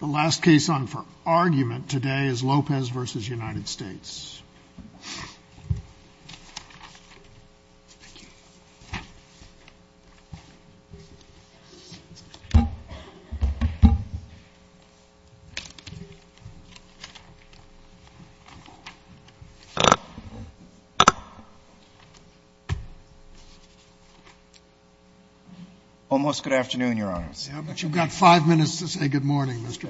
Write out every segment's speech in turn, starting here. The last case on for argument today is Lopez v. United States. Almost good afternoon, Your Honors. But you've got five minutes to say good morning, Mr.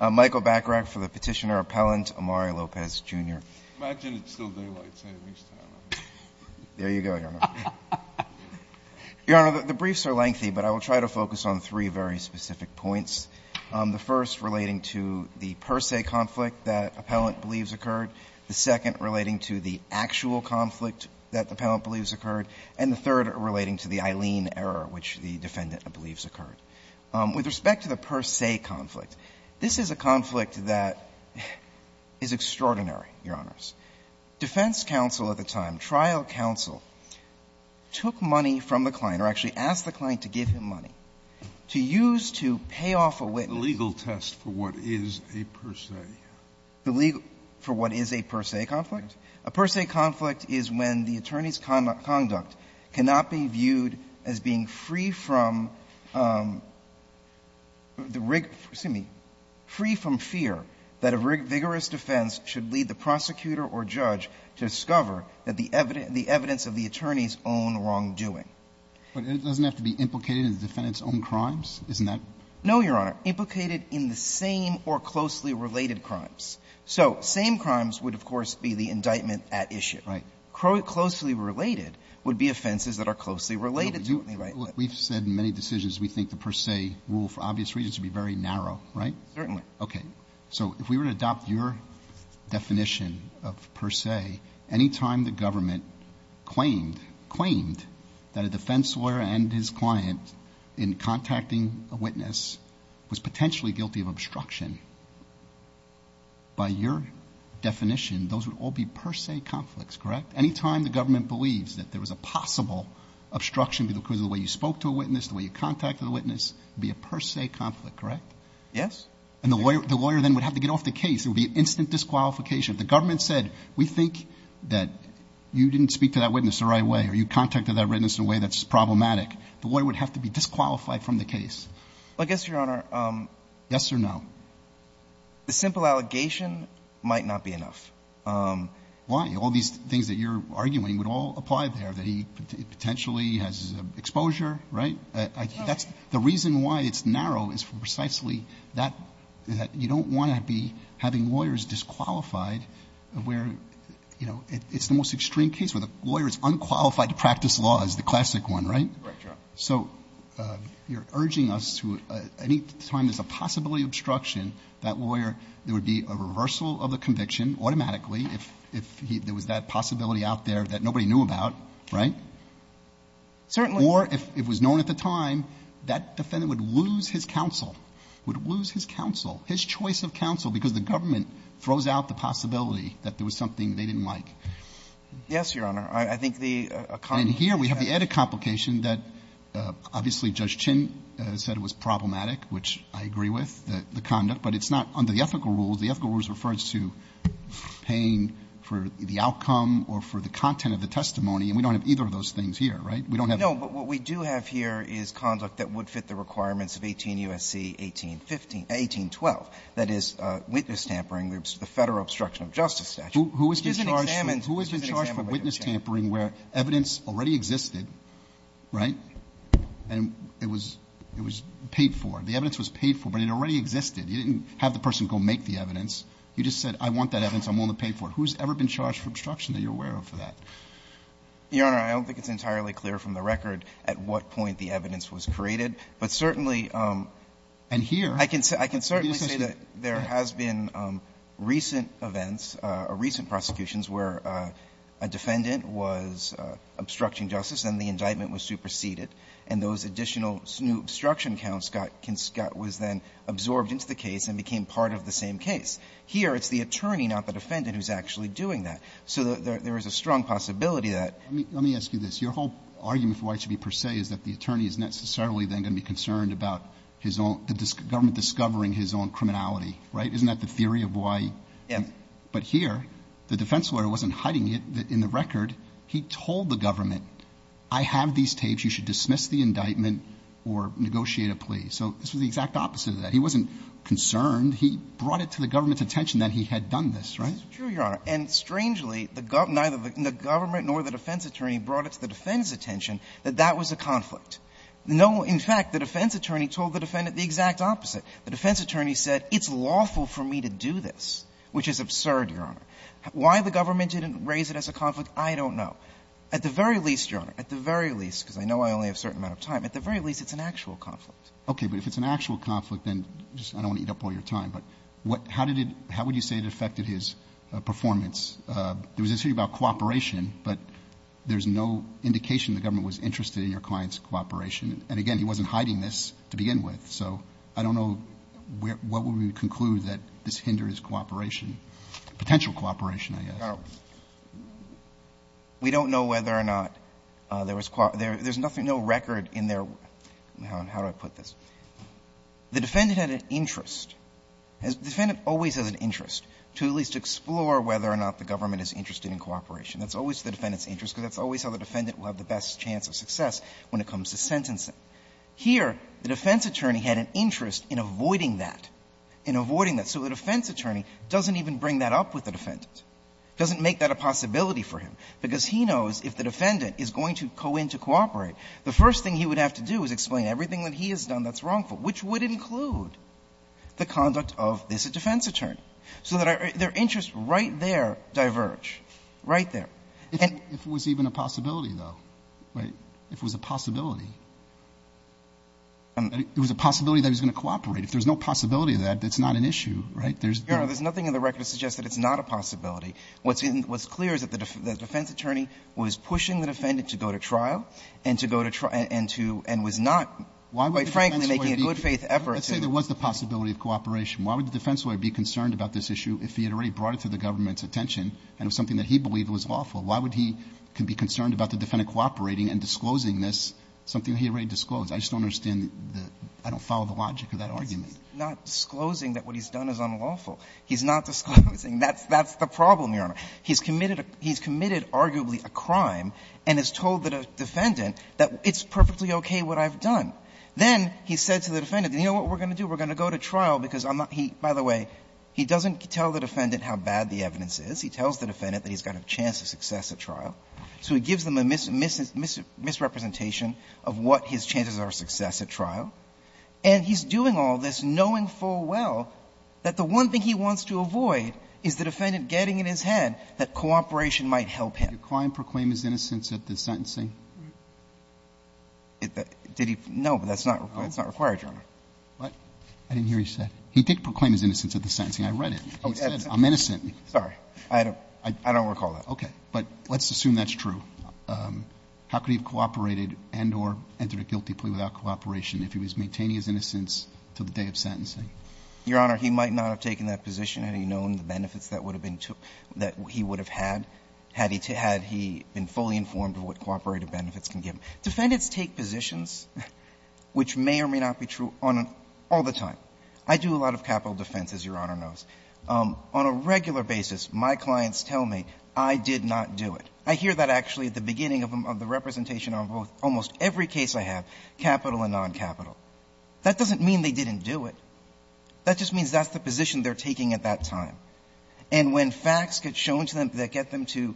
Bachrach. Michael Bachrach for the Petitioner-Appellant, Amari Lopez, Jr. Imagine it's still daylight, saying it's time. There you go, Your Honor. Your Honor, the briefs are lengthy, but I will try to focus on three very specific points, the first relating to the per se conflict that Appellant believes occurred, the second relating to the actual conflict that Appellant believes occurred, and the third relating to the Eileen error which the Defendant believes occurred. With respect to the per se conflict, this is a conflict that is extraordinary, Your Honors. Defense counsel at the time, trial counsel, took money from the client or actually asked the client to give him money to use to pay off a witness. Scalia The legal test for what is a per se. Michael Bachrach The legal test for what is a per se conflict? A per se conflict is when the attorney's conduct cannot be viewed as being free from fear that a vigorous defense should lead the prosecutor or judge to discover that the evidence of the attorney's own wrongdoing. Scalia But it doesn't have to be implicated in the Defendant's own crimes, isn't that? Michael Bachrach No, Your Honor. Implicated in the same or closely related crimes. So same crimes would, of course, be the indictment at issue. Scalia Right. Michael Bachrach Closely related would be offenses that are closely related to it. Roberts We've said in many decisions we think the per se rule for obvious reasons would be very narrow, right? Michael Bachrach Certainly. Roberts Okay. So if we were to adopt your definition of per se, any time the government claimed, claimed that a defense lawyer and his client in contacting a witness was potentially guilty of obstruction, by your definition, those would all be per se conflicts, correct? Any time the government believes that there was a possible obstruction because of the way you spoke to a witness, the way you contacted the witness, it would be a per se conflict, correct? Michael Bachrach Yes. Roberts And the lawyer then would have to get off the case. It would be an instant disqualification. If the government said, we think that you didn't speak to that witness the right way or you contacted that witness in a way that's problematic, the lawyer would have to be disqualified from the case. Michael Bachrach I guess, Your Honor, the simple allegation might not be enough. Roberts Why? All these things that you're arguing would all apply there, that he potentially has exposure, right? That's the reason why it's narrow is for precisely that you don't want to be having lawyers disqualified where, you know, it's the most extreme case where the lawyer is unqualified to practice law is the classic one, right? Michael Bachrach Correct, Your Honor. Roberts So you're urging us to, any time there's a possibility of obstruction, that lawyer, there would be a reversal of the conviction automatically if there was that possibility out there that nobody knew about, right? Michael Bachrach Certainly. Roberts Or if it was known at the time, that defendant would lose his counsel, would lose his counsel, his choice of counsel, because the government throws out the possibility that there was something they didn't like. Michael Bachrach Yes, Your Honor. I think the comment that you have to make is that there's a possibility of obstruction. Roberts And here we have the added complication that obviously Judge Chin said it was problematic, which I agree with, the conduct, but it's not under the ethical rules. The ethical rules refer to paying for the outcome or for the content of the testimony, and we don't have either of those things here, right? We don't have the ---- Alito No. But what we do have here is conduct that would fit the requirements of 18 U.S.C. 1815 1812, that is, witness tampering, the Federal Obstruction of Justice statute. Roberts Who has been charged for witness tampering where evidence already existed, right, and it was paid for, the evidence was paid for, but it already existed. You didn't have the person go make the evidence. You just said, I want that evidence, I'm willing to pay for it. Who's ever been charged for obstruction that you're aware of for that? Alito Your Honor, I don't think it's entirely clear from the record at what point the evidence was created, but certainly ---- Roberts And here ---- Alito I can certainly say that there has been recent events or recent prosecutions where a defendant was obstructing justice and the indictment was superseded, and those additional new obstruction counts got ---- was then absorbed into the case and became part of the same case. Here, it's the attorney, not the defendant, who's actually doing that. So there is a strong possibility that ---- Roberts Let me ask you this. Your whole argument for why it should be per se is that the attorney is necessarily then going to be concerned about his own ---- the government discovering his own criminality, right? Isn't that the theory of why ---- Alito Yes. Roberts But here, the defense lawyer wasn't hiding it. In the record, he told the government, I have these tapes. You should dismiss the indictment or negotiate a plea. So this was the exact opposite of that. He wasn't concerned. He brought it to the government's attention that he had done this, right? Alito That's true, Your Honor. And strangely, neither the government nor the defense attorney brought it to the defendant's attention that that was a conflict. No ---- in fact, the defense attorney told the defendant the exact opposite. The defense attorney said, it's lawful for me to do this, which is absurd, Your Honor. Why the government didn't raise it as a conflict, I don't know. At the very least, Your Honor, at the very least, because I know I only have a certain amount of time, at the very least, it's an actual conflict. Roberts Okay. But if it's an actual conflict, then just ---- I don't want to eat up all your time. But what ---- how did it ---- how would you say it affected his performance? There was a theory about cooperation, but there's no indication the government was interested in your client's cooperation. And again, he wasn't hiding this to begin with. So I don't know where ---- what would we conclude that this hindered his cooperation, potential cooperation, I guess. Alito We don't know whether or not there was ---- there's nothing, no record in their ---- how do I put this? The defendant had an interest. The defendant always has an interest to at least explore whether or not the government is interested in cooperation. That's always the defendant's interest, because that's always how the defendant will have the best chance of success when it comes to sentencing. Here, the defense attorney had an interest in avoiding that, in avoiding that. So the defense attorney doesn't even bring that up with the defendant, doesn't make that a possibility for him, because he knows if the defendant is going to go in to cooperate, the first thing he would have to do is explain everything that he has done that's wrongful, which would include the conduct of this defense attorney. So that their interests right there diverge, right there. And ---- Roberts, if it was even a possibility, though, right, if it was a possibility, it was a possibility that he was going to cooperate. If there's no possibility of that, that's not an issue, right? There's no ---- Alito There's nothing in the record that suggests that it's not a possibility. What's clear is that the defense attorney was pushing the defendant to go to trial and to go to trial and to ---- and was not. Why would the defense lawyer be ---- Roberts, quite frankly, making a good-faith effort to ---- Alito Let's say there was the possibility of cooperation. Why would the defense lawyer be concerned about this issue if he had already brought it to the government's attention and it was something that he believed was lawful? Why would he be concerned about the defendant cooperating and disclosing this, something he had already disclosed? I just don't understand the ---- I don't follow the logic of that argument. Verrilli, Jr. Not disclosing that what he's done is unlawful. He's not disclosing that's the problem, Your Honor. He's committed arguably a crime and has told the defendant that it's perfectly okay what I've done. Then he said to the defendant, you know what we're going to do? We're going to go to trial because I'm not ---- he, by the way, he doesn't tell the defendant how bad the evidence is. He tells the defendant that he's got a chance of success at trial. So he gives them a misrepresentation of what his chances are of success at trial. And he's doing all this knowing full well that the one thing he wants to avoid is the defendant getting in his head that cooperation might help him. Roberts, Jr. Did the client proclaim his innocence at the sentencing? Did he? No, but that's not required, Your Honor. What? I didn't hear you say. He did proclaim his innocence at the sentencing. I read it. He said, I'm innocent. Sorry. I don't recall that. Okay. But let's assume that's true. How could he have cooperated and or entered a guilty plea without cooperation if he was maintaining his innocence to the day of sentencing? Your Honor, he might not have taken that position had he known the benefits that would have been took ---- that he would have had, had he been fully informed of what cooperative benefits can give him. Defendants take positions which may or may not be true all the time. I do a lot of capital defense, as Your Honor knows. On a regular basis, my clients tell me, I did not do it. I hear that actually at the beginning of the representation on almost every case I have, capital and noncapital. That doesn't mean they didn't do it. That just means that's the position they're taking at that time. And when facts get shown to them that get them to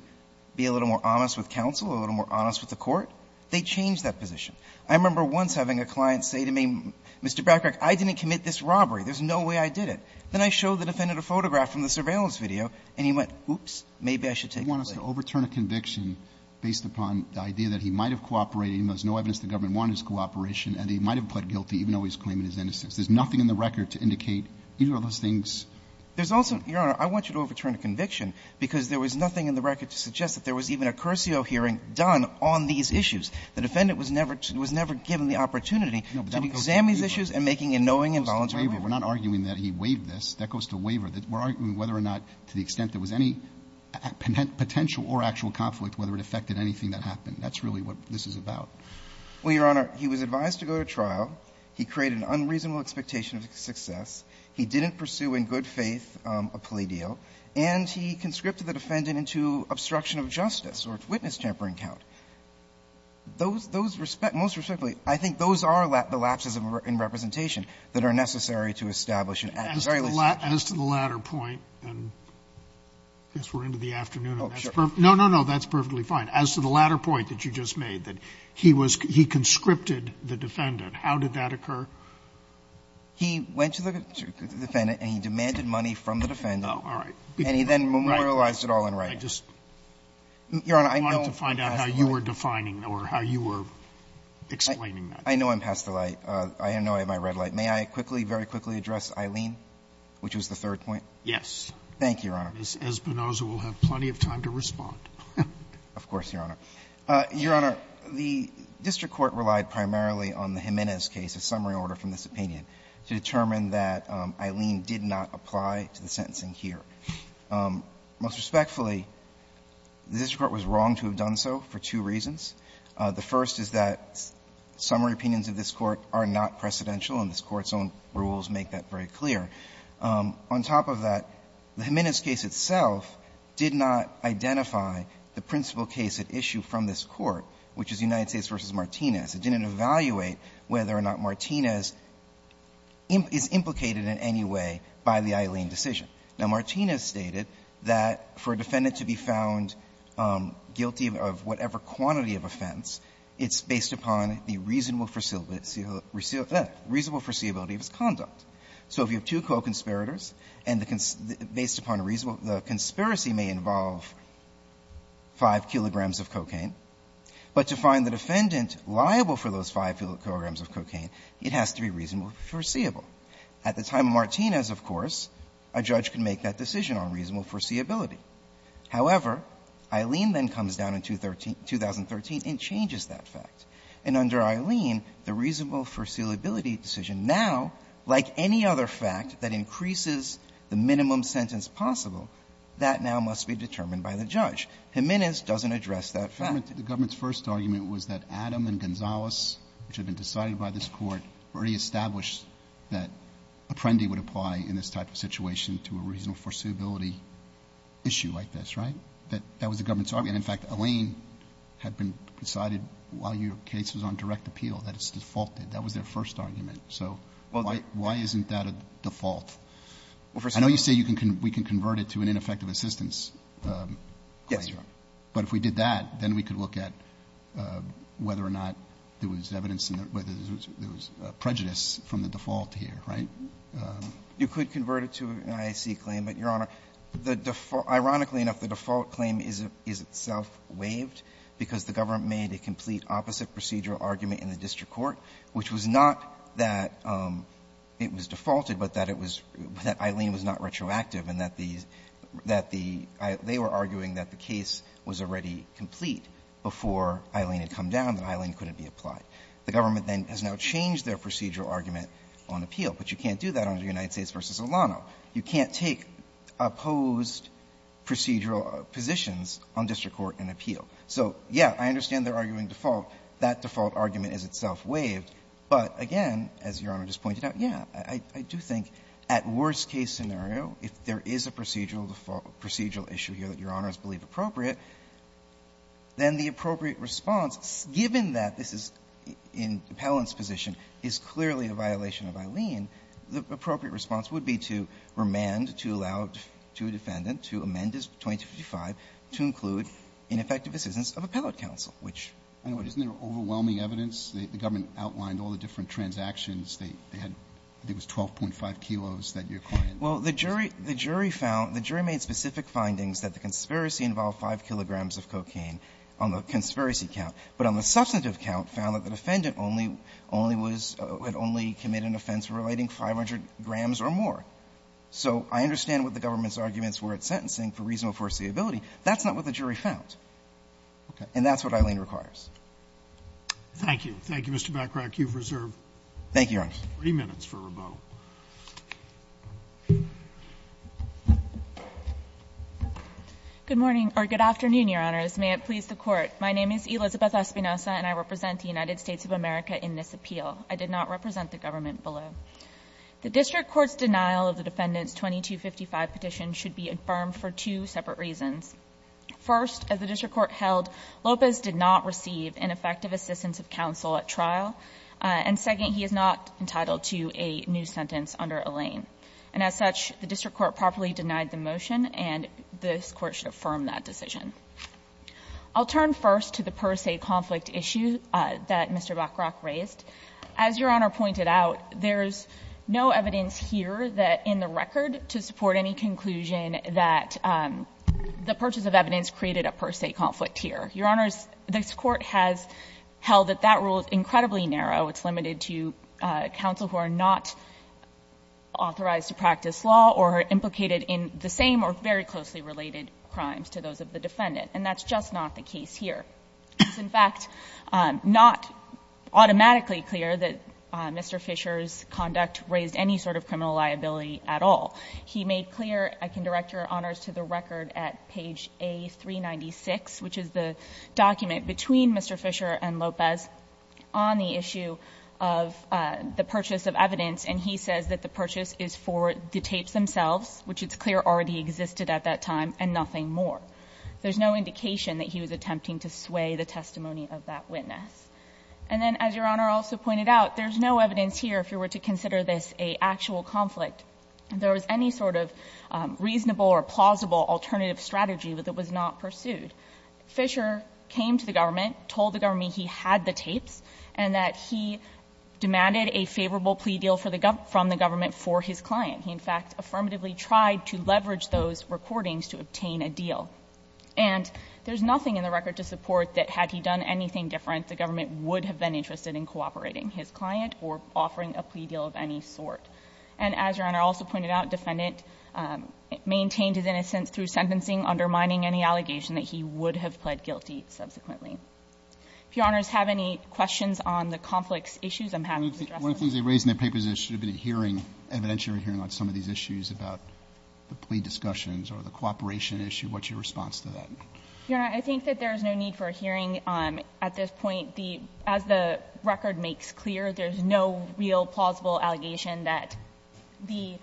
be a little more honest with counsel, a little more honest with the court, they change that position. I remember once having a client say to me, Mr. Bracken, I didn't commit this robbery. There's no way I did it. Then I showed the defendant a photograph from the surveillance video, and he went, oops, maybe I should take the plea. Roberts, you want us to overturn a conviction based upon the idea that he might have cooperated, even though there's no evidence the government wanted his cooperation, and he might have pled guilty even though he's claiming his innocence. There's nothing in the record to indicate either of those things. There's also, Your Honor, I want you to overturn a conviction because there was nothing in the record to suggest that there was even a cursio hearing done on these issues. The defendant was never to be given the opportunity to examine these issues and making a knowing and voluntary waiver. Roberts, we're not arguing that he waived this. That goes to waiver. We're arguing whether or not, to the extent there was any potential or actual conflict, whether it affected anything that happened. That's really what this is about. Well, Your Honor, he was advised to go to trial. He created an unreasonable expectation of success. He didn't pursue in good faith a plea deal. And he conscripted the defendant into obstruction of justice or witness-tempering count. Those respect, most respectfully, I think those are the lapses in representation that are necessary to establish an act of very little judgment. As to the latter point, and I guess we're into the afternoon. Oh, sure. No, no, no. That's perfectly fine. As to the latter point that you just made, that he was he conscripted the defendant, how did that occur? He went to the defendant and he demanded money from the defendant. All right. And he then memorialized it all in writing. I just wanted to find out how you were defining or how you were explaining that. I know I'm past the light. I know I have my red light. May I quickly, very quickly address Aileen, which was the third point? Yes. Thank you, Your Honor. Ms. Espinosa will have plenty of time to respond. Of course, Your Honor. Your Honor, the district court relied primarily on the Jimenez case, a summary case in order from this opinion, to determine that Aileen did not apply to the sentencing here. Most respectfully, the district court was wrong to have done so for two reasons. The first is that summary opinions of this Court are not precedential, and this Court's own rules make that very clear. On top of that, the Jimenez case itself did not identify the principal case at issue from this Court, which is United States v. Martinez. It didn't evaluate whether or not Martinez is implicated in any way by the Aileen decision. Now, Martinez stated that for a defendant to be found guilty of whatever quantity of offense, it's based upon the reasonable foreseeability of his conduct. So if you have two co-conspirators and the conspiracy may involve 5 kilograms of cocaine, but to find the defendant liable for those 5 kilograms of cocaine, it has to be reasonable foreseeable. At the time of Martinez, of course, a judge can make that decision on reasonable foreseeability. However, Aileen then comes down in 2013 and changes that fact. And under Aileen, the reasonable foreseeability decision now, like any other fact that increases the minimum sentence possible, that now must be determined by the judge. Jimenez doesn't address that fact. Roberts. The government's first argument was that Adam and Gonzales, which had been decided by this Court, already established that Apprendi would apply in this type of situation to a reasonable foreseeability issue like this, right? That that was the government's argument. In fact, Aileen had been decided while your case was on direct appeal that it's defaulted. That was their first argument. So why isn't that a default? I know you say we can convert it to an ineffective assistance claim. But if we did that, then we could look at whether or not there was evidence in there, whether there was prejudice from the default here, right? You could convert it to an IAC claim, but, Your Honor, ironically enough, the default claim is itself waived because the government made a complete opposite procedural argument in the district court, which was not that it was defaulted, but that it was that Aileen was not retroactive, and that the they were arguing that the case was already complete before Aileen had come down, that Aileen couldn't be applied. The government then has now changed their procedural argument on appeal. But you can't do that under United States v. Olano. You can't take opposed procedural positions on district court and appeal. So, yeah, I understand they're arguing default. That default argument is itself waived. But, again, as Your Honor just pointed out, yeah, I do think at worst-case scenario, if there is a procedural default, procedural issue here that Your Honor has believed is appropriate, then the appropriate response, given that this is in Appellant's position, is clearly a violation of Aileen, the appropriate response would be to remand, to allow to a defendant, to amend as 2255, to include ineffective assistance of appellate counsel, which I know it is. Roberts, isn't there overwhelming evidence? The government outlined all the different transactions. They had, I think it was 12.5 kilos that your client. Well, the jury, the jury found, the jury made specific findings that the conspiracy involved 5 kilograms of cocaine on the conspiracy count. But on the substantive count, found that the defendant only, only was, had only committed an offense relating 500 grams or more. So I understand what the government's arguments were at sentencing for reasonable foreseeability. That's not what the jury found. And that's what Aileen requires. Thank you. Thank you, Mr. Backrack. You've reserved 3 minutes for rebuttal. Good morning, or good afternoon, Your Honors. May it please the Court. My name is Elizabeth Espinosa, and I represent the United States of America in this appeal. I did not represent the government below. The district court's denial of the defendant's 2255 petition should be affirmed for two separate reasons. First, as the district court held, Lopez did not receive ineffective assistance of counsel at trial. And second, he is not entitled to a new sentence under Alain. And as such, the district court properly denied the motion, and this Court should affirm that decision. I'll turn first to the per se conflict issue that Mr. Backrack raised. As Your Honor pointed out, there's no evidence here that in the record to support any conclusion that the purchase of evidence created a per se conflict here. Your Honors, this Court has held that that rule is incredibly narrow. It's limited to counsel who are not authorized to practice law or implicated in the same or very closely related crimes to those of the defendant. And that's just not the case here. It's, in fact, not automatically clear that Mr. Fisher's conduct raised any sort of criminal liability at all. He made clear, I can direct Your Honors to the record at page A396, which is the document between Mr. Fisher and Lopez on the issue of the purchase of evidence. And he says that the purchase is for the tapes themselves, which it's clear already existed at that time, and nothing more. There's no indication that he was attempting to sway the testimony of that witness. And then, as Your Honor also pointed out, there's no evidence here, if you were to consider this a actual conflict, that there was any sort of reasonable or plausible alternative strategy that was not pursued. Fisher came to the government, told the government he had the tapes, and that he demanded a favorable plea deal from the government for his client. He, in fact, affirmatively tried to leverage those recordings to obtain a deal. And there's nothing in the record to support that had he done anything different, the government would have been interested in cooperating his client or offering a plea deal of any sort. And as Your Honor also pointed out, defendant maintained his innocence through sentencing, undermining any allegation that he would have pled guilty subsequently. If Your Honors have any questions on the conflict issues, I'm happy to address them. Roberts, they raised in their papers there should have been a hearing, evidentiary hearing, on some of these issues about the plea discussions or the cooperation issue. What's your response to that? Your Honor, I think that there is no need for a hearing. At this point, the as the record makes clear, there is no real, plausible allegation that the,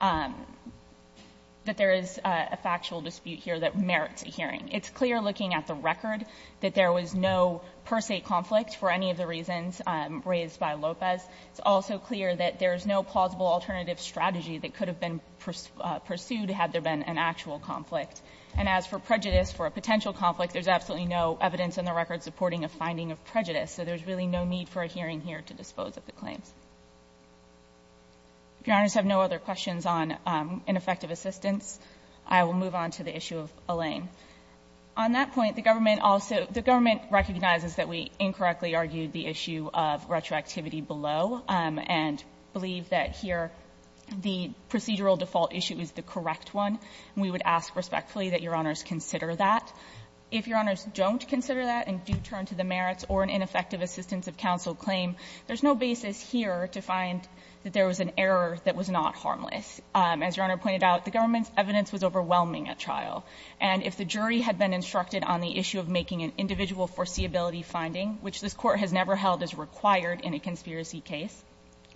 that there is a factual dispute here that merits a hearing. It's clear looking at the record that there was no per se conflict for any of the reasons raised by Lopez. It's also clear that there is no plausible alternative strategy that could have been pursued had there been an actual conflict. And as for prejudice, for a potential conflict, there's absolutely no evidence in the record supporting a finding of prejudice. So there's really no need for a hearing here to dispose of the claims. If Your Honors have no other questions on ineffective assistance, I will move on to the issue of Allain. On that point, the government also, the government recognizes that we incorrectly argued the issue of retroactivity below and believe that here the procedural default issue is the correct one. And we would ask respectfully that Your Honors consider that. If Your Honors don't consider that and do turn to the merits or an ineffective assistance of counsel claim, there's no basis here to find that there was an error that was not harmless. As Your Honor pointed out, the government's evidence was overwhelming at trial. And if the jury had been instructed on the issue of making an individual foreseeability finding, which this Court has never held as required in a conspiracy case,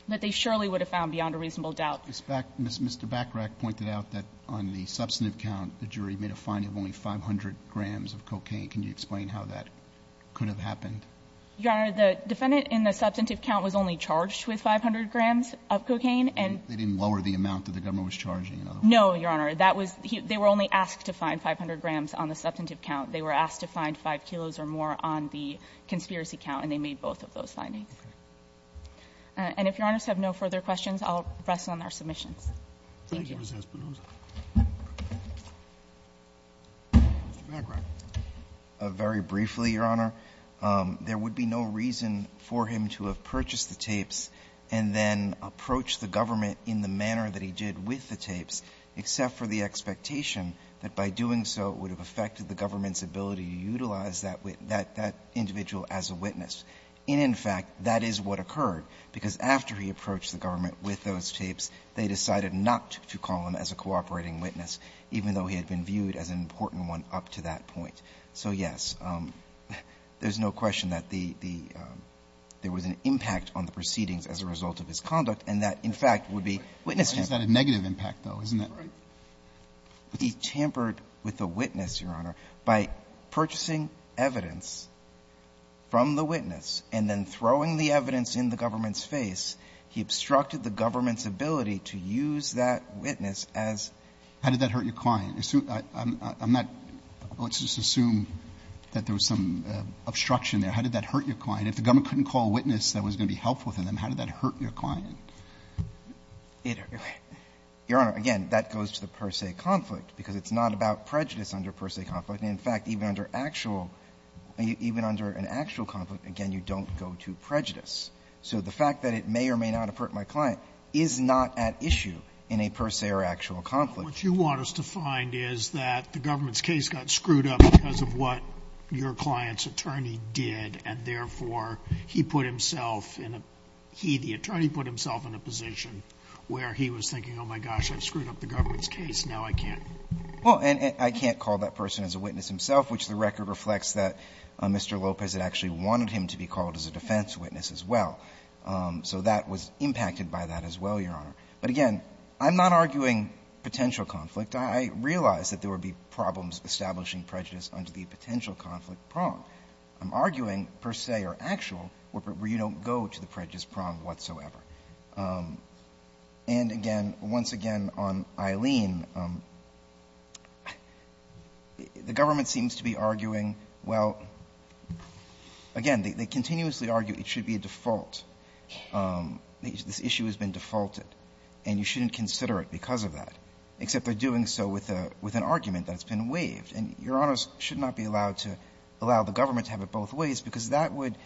that they surely would have found beyond a reasonable doubt. Mr. Backrack pointed out that on the substantive count, the jury made a finding of only 500 grams of cocaine. Can you explain how that could have happened? Your Honor, the defendant in the substantive count was only charged with 500 grams of cocaine and they didn't lower the amount that the government was charging. No, Your Honor, that was, they were only asked to find 500 grams on the substantive count. They were asked to find 5 kilos or more on the conspiracy count and they made both of those findings. And if Your Honors have no further questions, I'll rest on our submissions. Thank you. Mr. Backrack. Very briefly, Your Honor, there would be no reason for him to have purchased the tapes and then approached the government in the manner that he did with the tapes, except for the expectation that by doing so, it would have affected the government's ability to utilize that individual as a witness. And in fact, that is what occurred, because after he approached the government with those tapes, they decided not to call him as a cooperating witness, even though he had been viewed as an important one up to that point. So, yes, there's no question that the, there was an impact on the proceedings as a result of his conduct, and that, in fact, would be witness tampering. Why is that a negative impact, though? Isn't that right? He tampered with the witness, Your Honor, by purchasing evidence from the witness and then throwing the evidence in the government's face, he obstructed the government's ability to use that witness as a witness. How did that hurt your client? I'm not, let's just assume that there was some obstruction there. How did that hurt your client? If the government couldn't call a witness that was going to be helpful to them, how did that hurt your client? It, Your Honor, again, that goes to the per se conflict, because it's not about prejudice under per se conflict. And in fact, even under actual, even under an actual conflict, again, you don't go to prejudice. So the fact that it may or may not have hurt my client is not at issue in a per se or actual conflict. What you want us to find is that the government's case got screwed up because of what your client's attorney did, and therefore, he put himself in a, he, the attorney put himself in a position where he was thinking, oh, my gosh, I've screwed up the government's case, now I can't. Well, and I can't call that person as a witness himself, which the record reflects that Mr. Lopez had actually wanted him to be called as a defense witness as well. So that was impacted by that as well, Your Honor. But again, I'm not arguing potential conflict. I realize that there would be problems establishing prejudice under the potential conflict prong. I'm arguing per se or actual where you don't go to the prejudice prong whatsoever. And again, once again, on Eileen, the government seems to be arguing, well, again, they continuously argue it should be a default, this issue has been defaulted. And you shouldn't consider it because of that, except they're doing so with an argument that's been waived. And Your Honor should not be allowed to allow the government to have it both ways because that would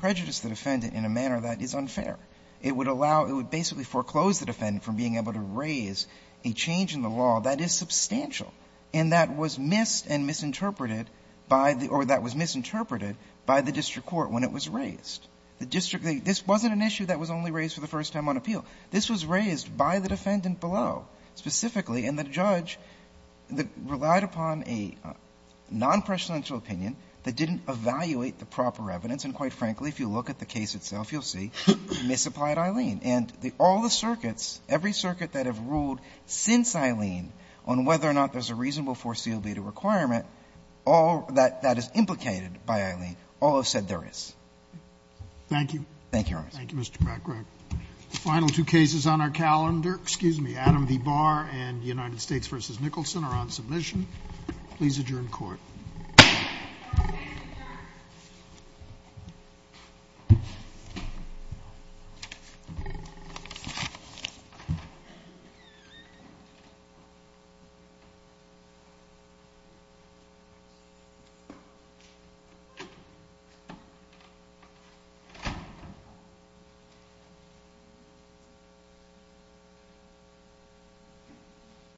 prejudice the defendant in a manner that is unfair. It would allow, it would basically foreclose the defendant from being able to raise a change in the law that is substantial and that was missed and misinterpreted by the, or that was misinterpreted by the district court when it was raised. The district, this wasn't an issue that was only raised for the first time on appeal. This was raised by the defendant below specifically and the judge relied upon a non-presidential opinion that didn't evaluate the proper evidence and quite frankly, if you look at the case itself, you'll see, misapplied Eileen and all the circuits, every circuit that have ruled since Eileen on whether or not there's a reasonable foreseeable requirement, all that is implicated by Eileen, all have said there is. Thank you. Thank you, Your Honor. Thank you, Mr. McGrath. The final two cases on our calendar, excuse me, Adam V. Barr and United States v. Nicholson are on submission. Please adjourn court.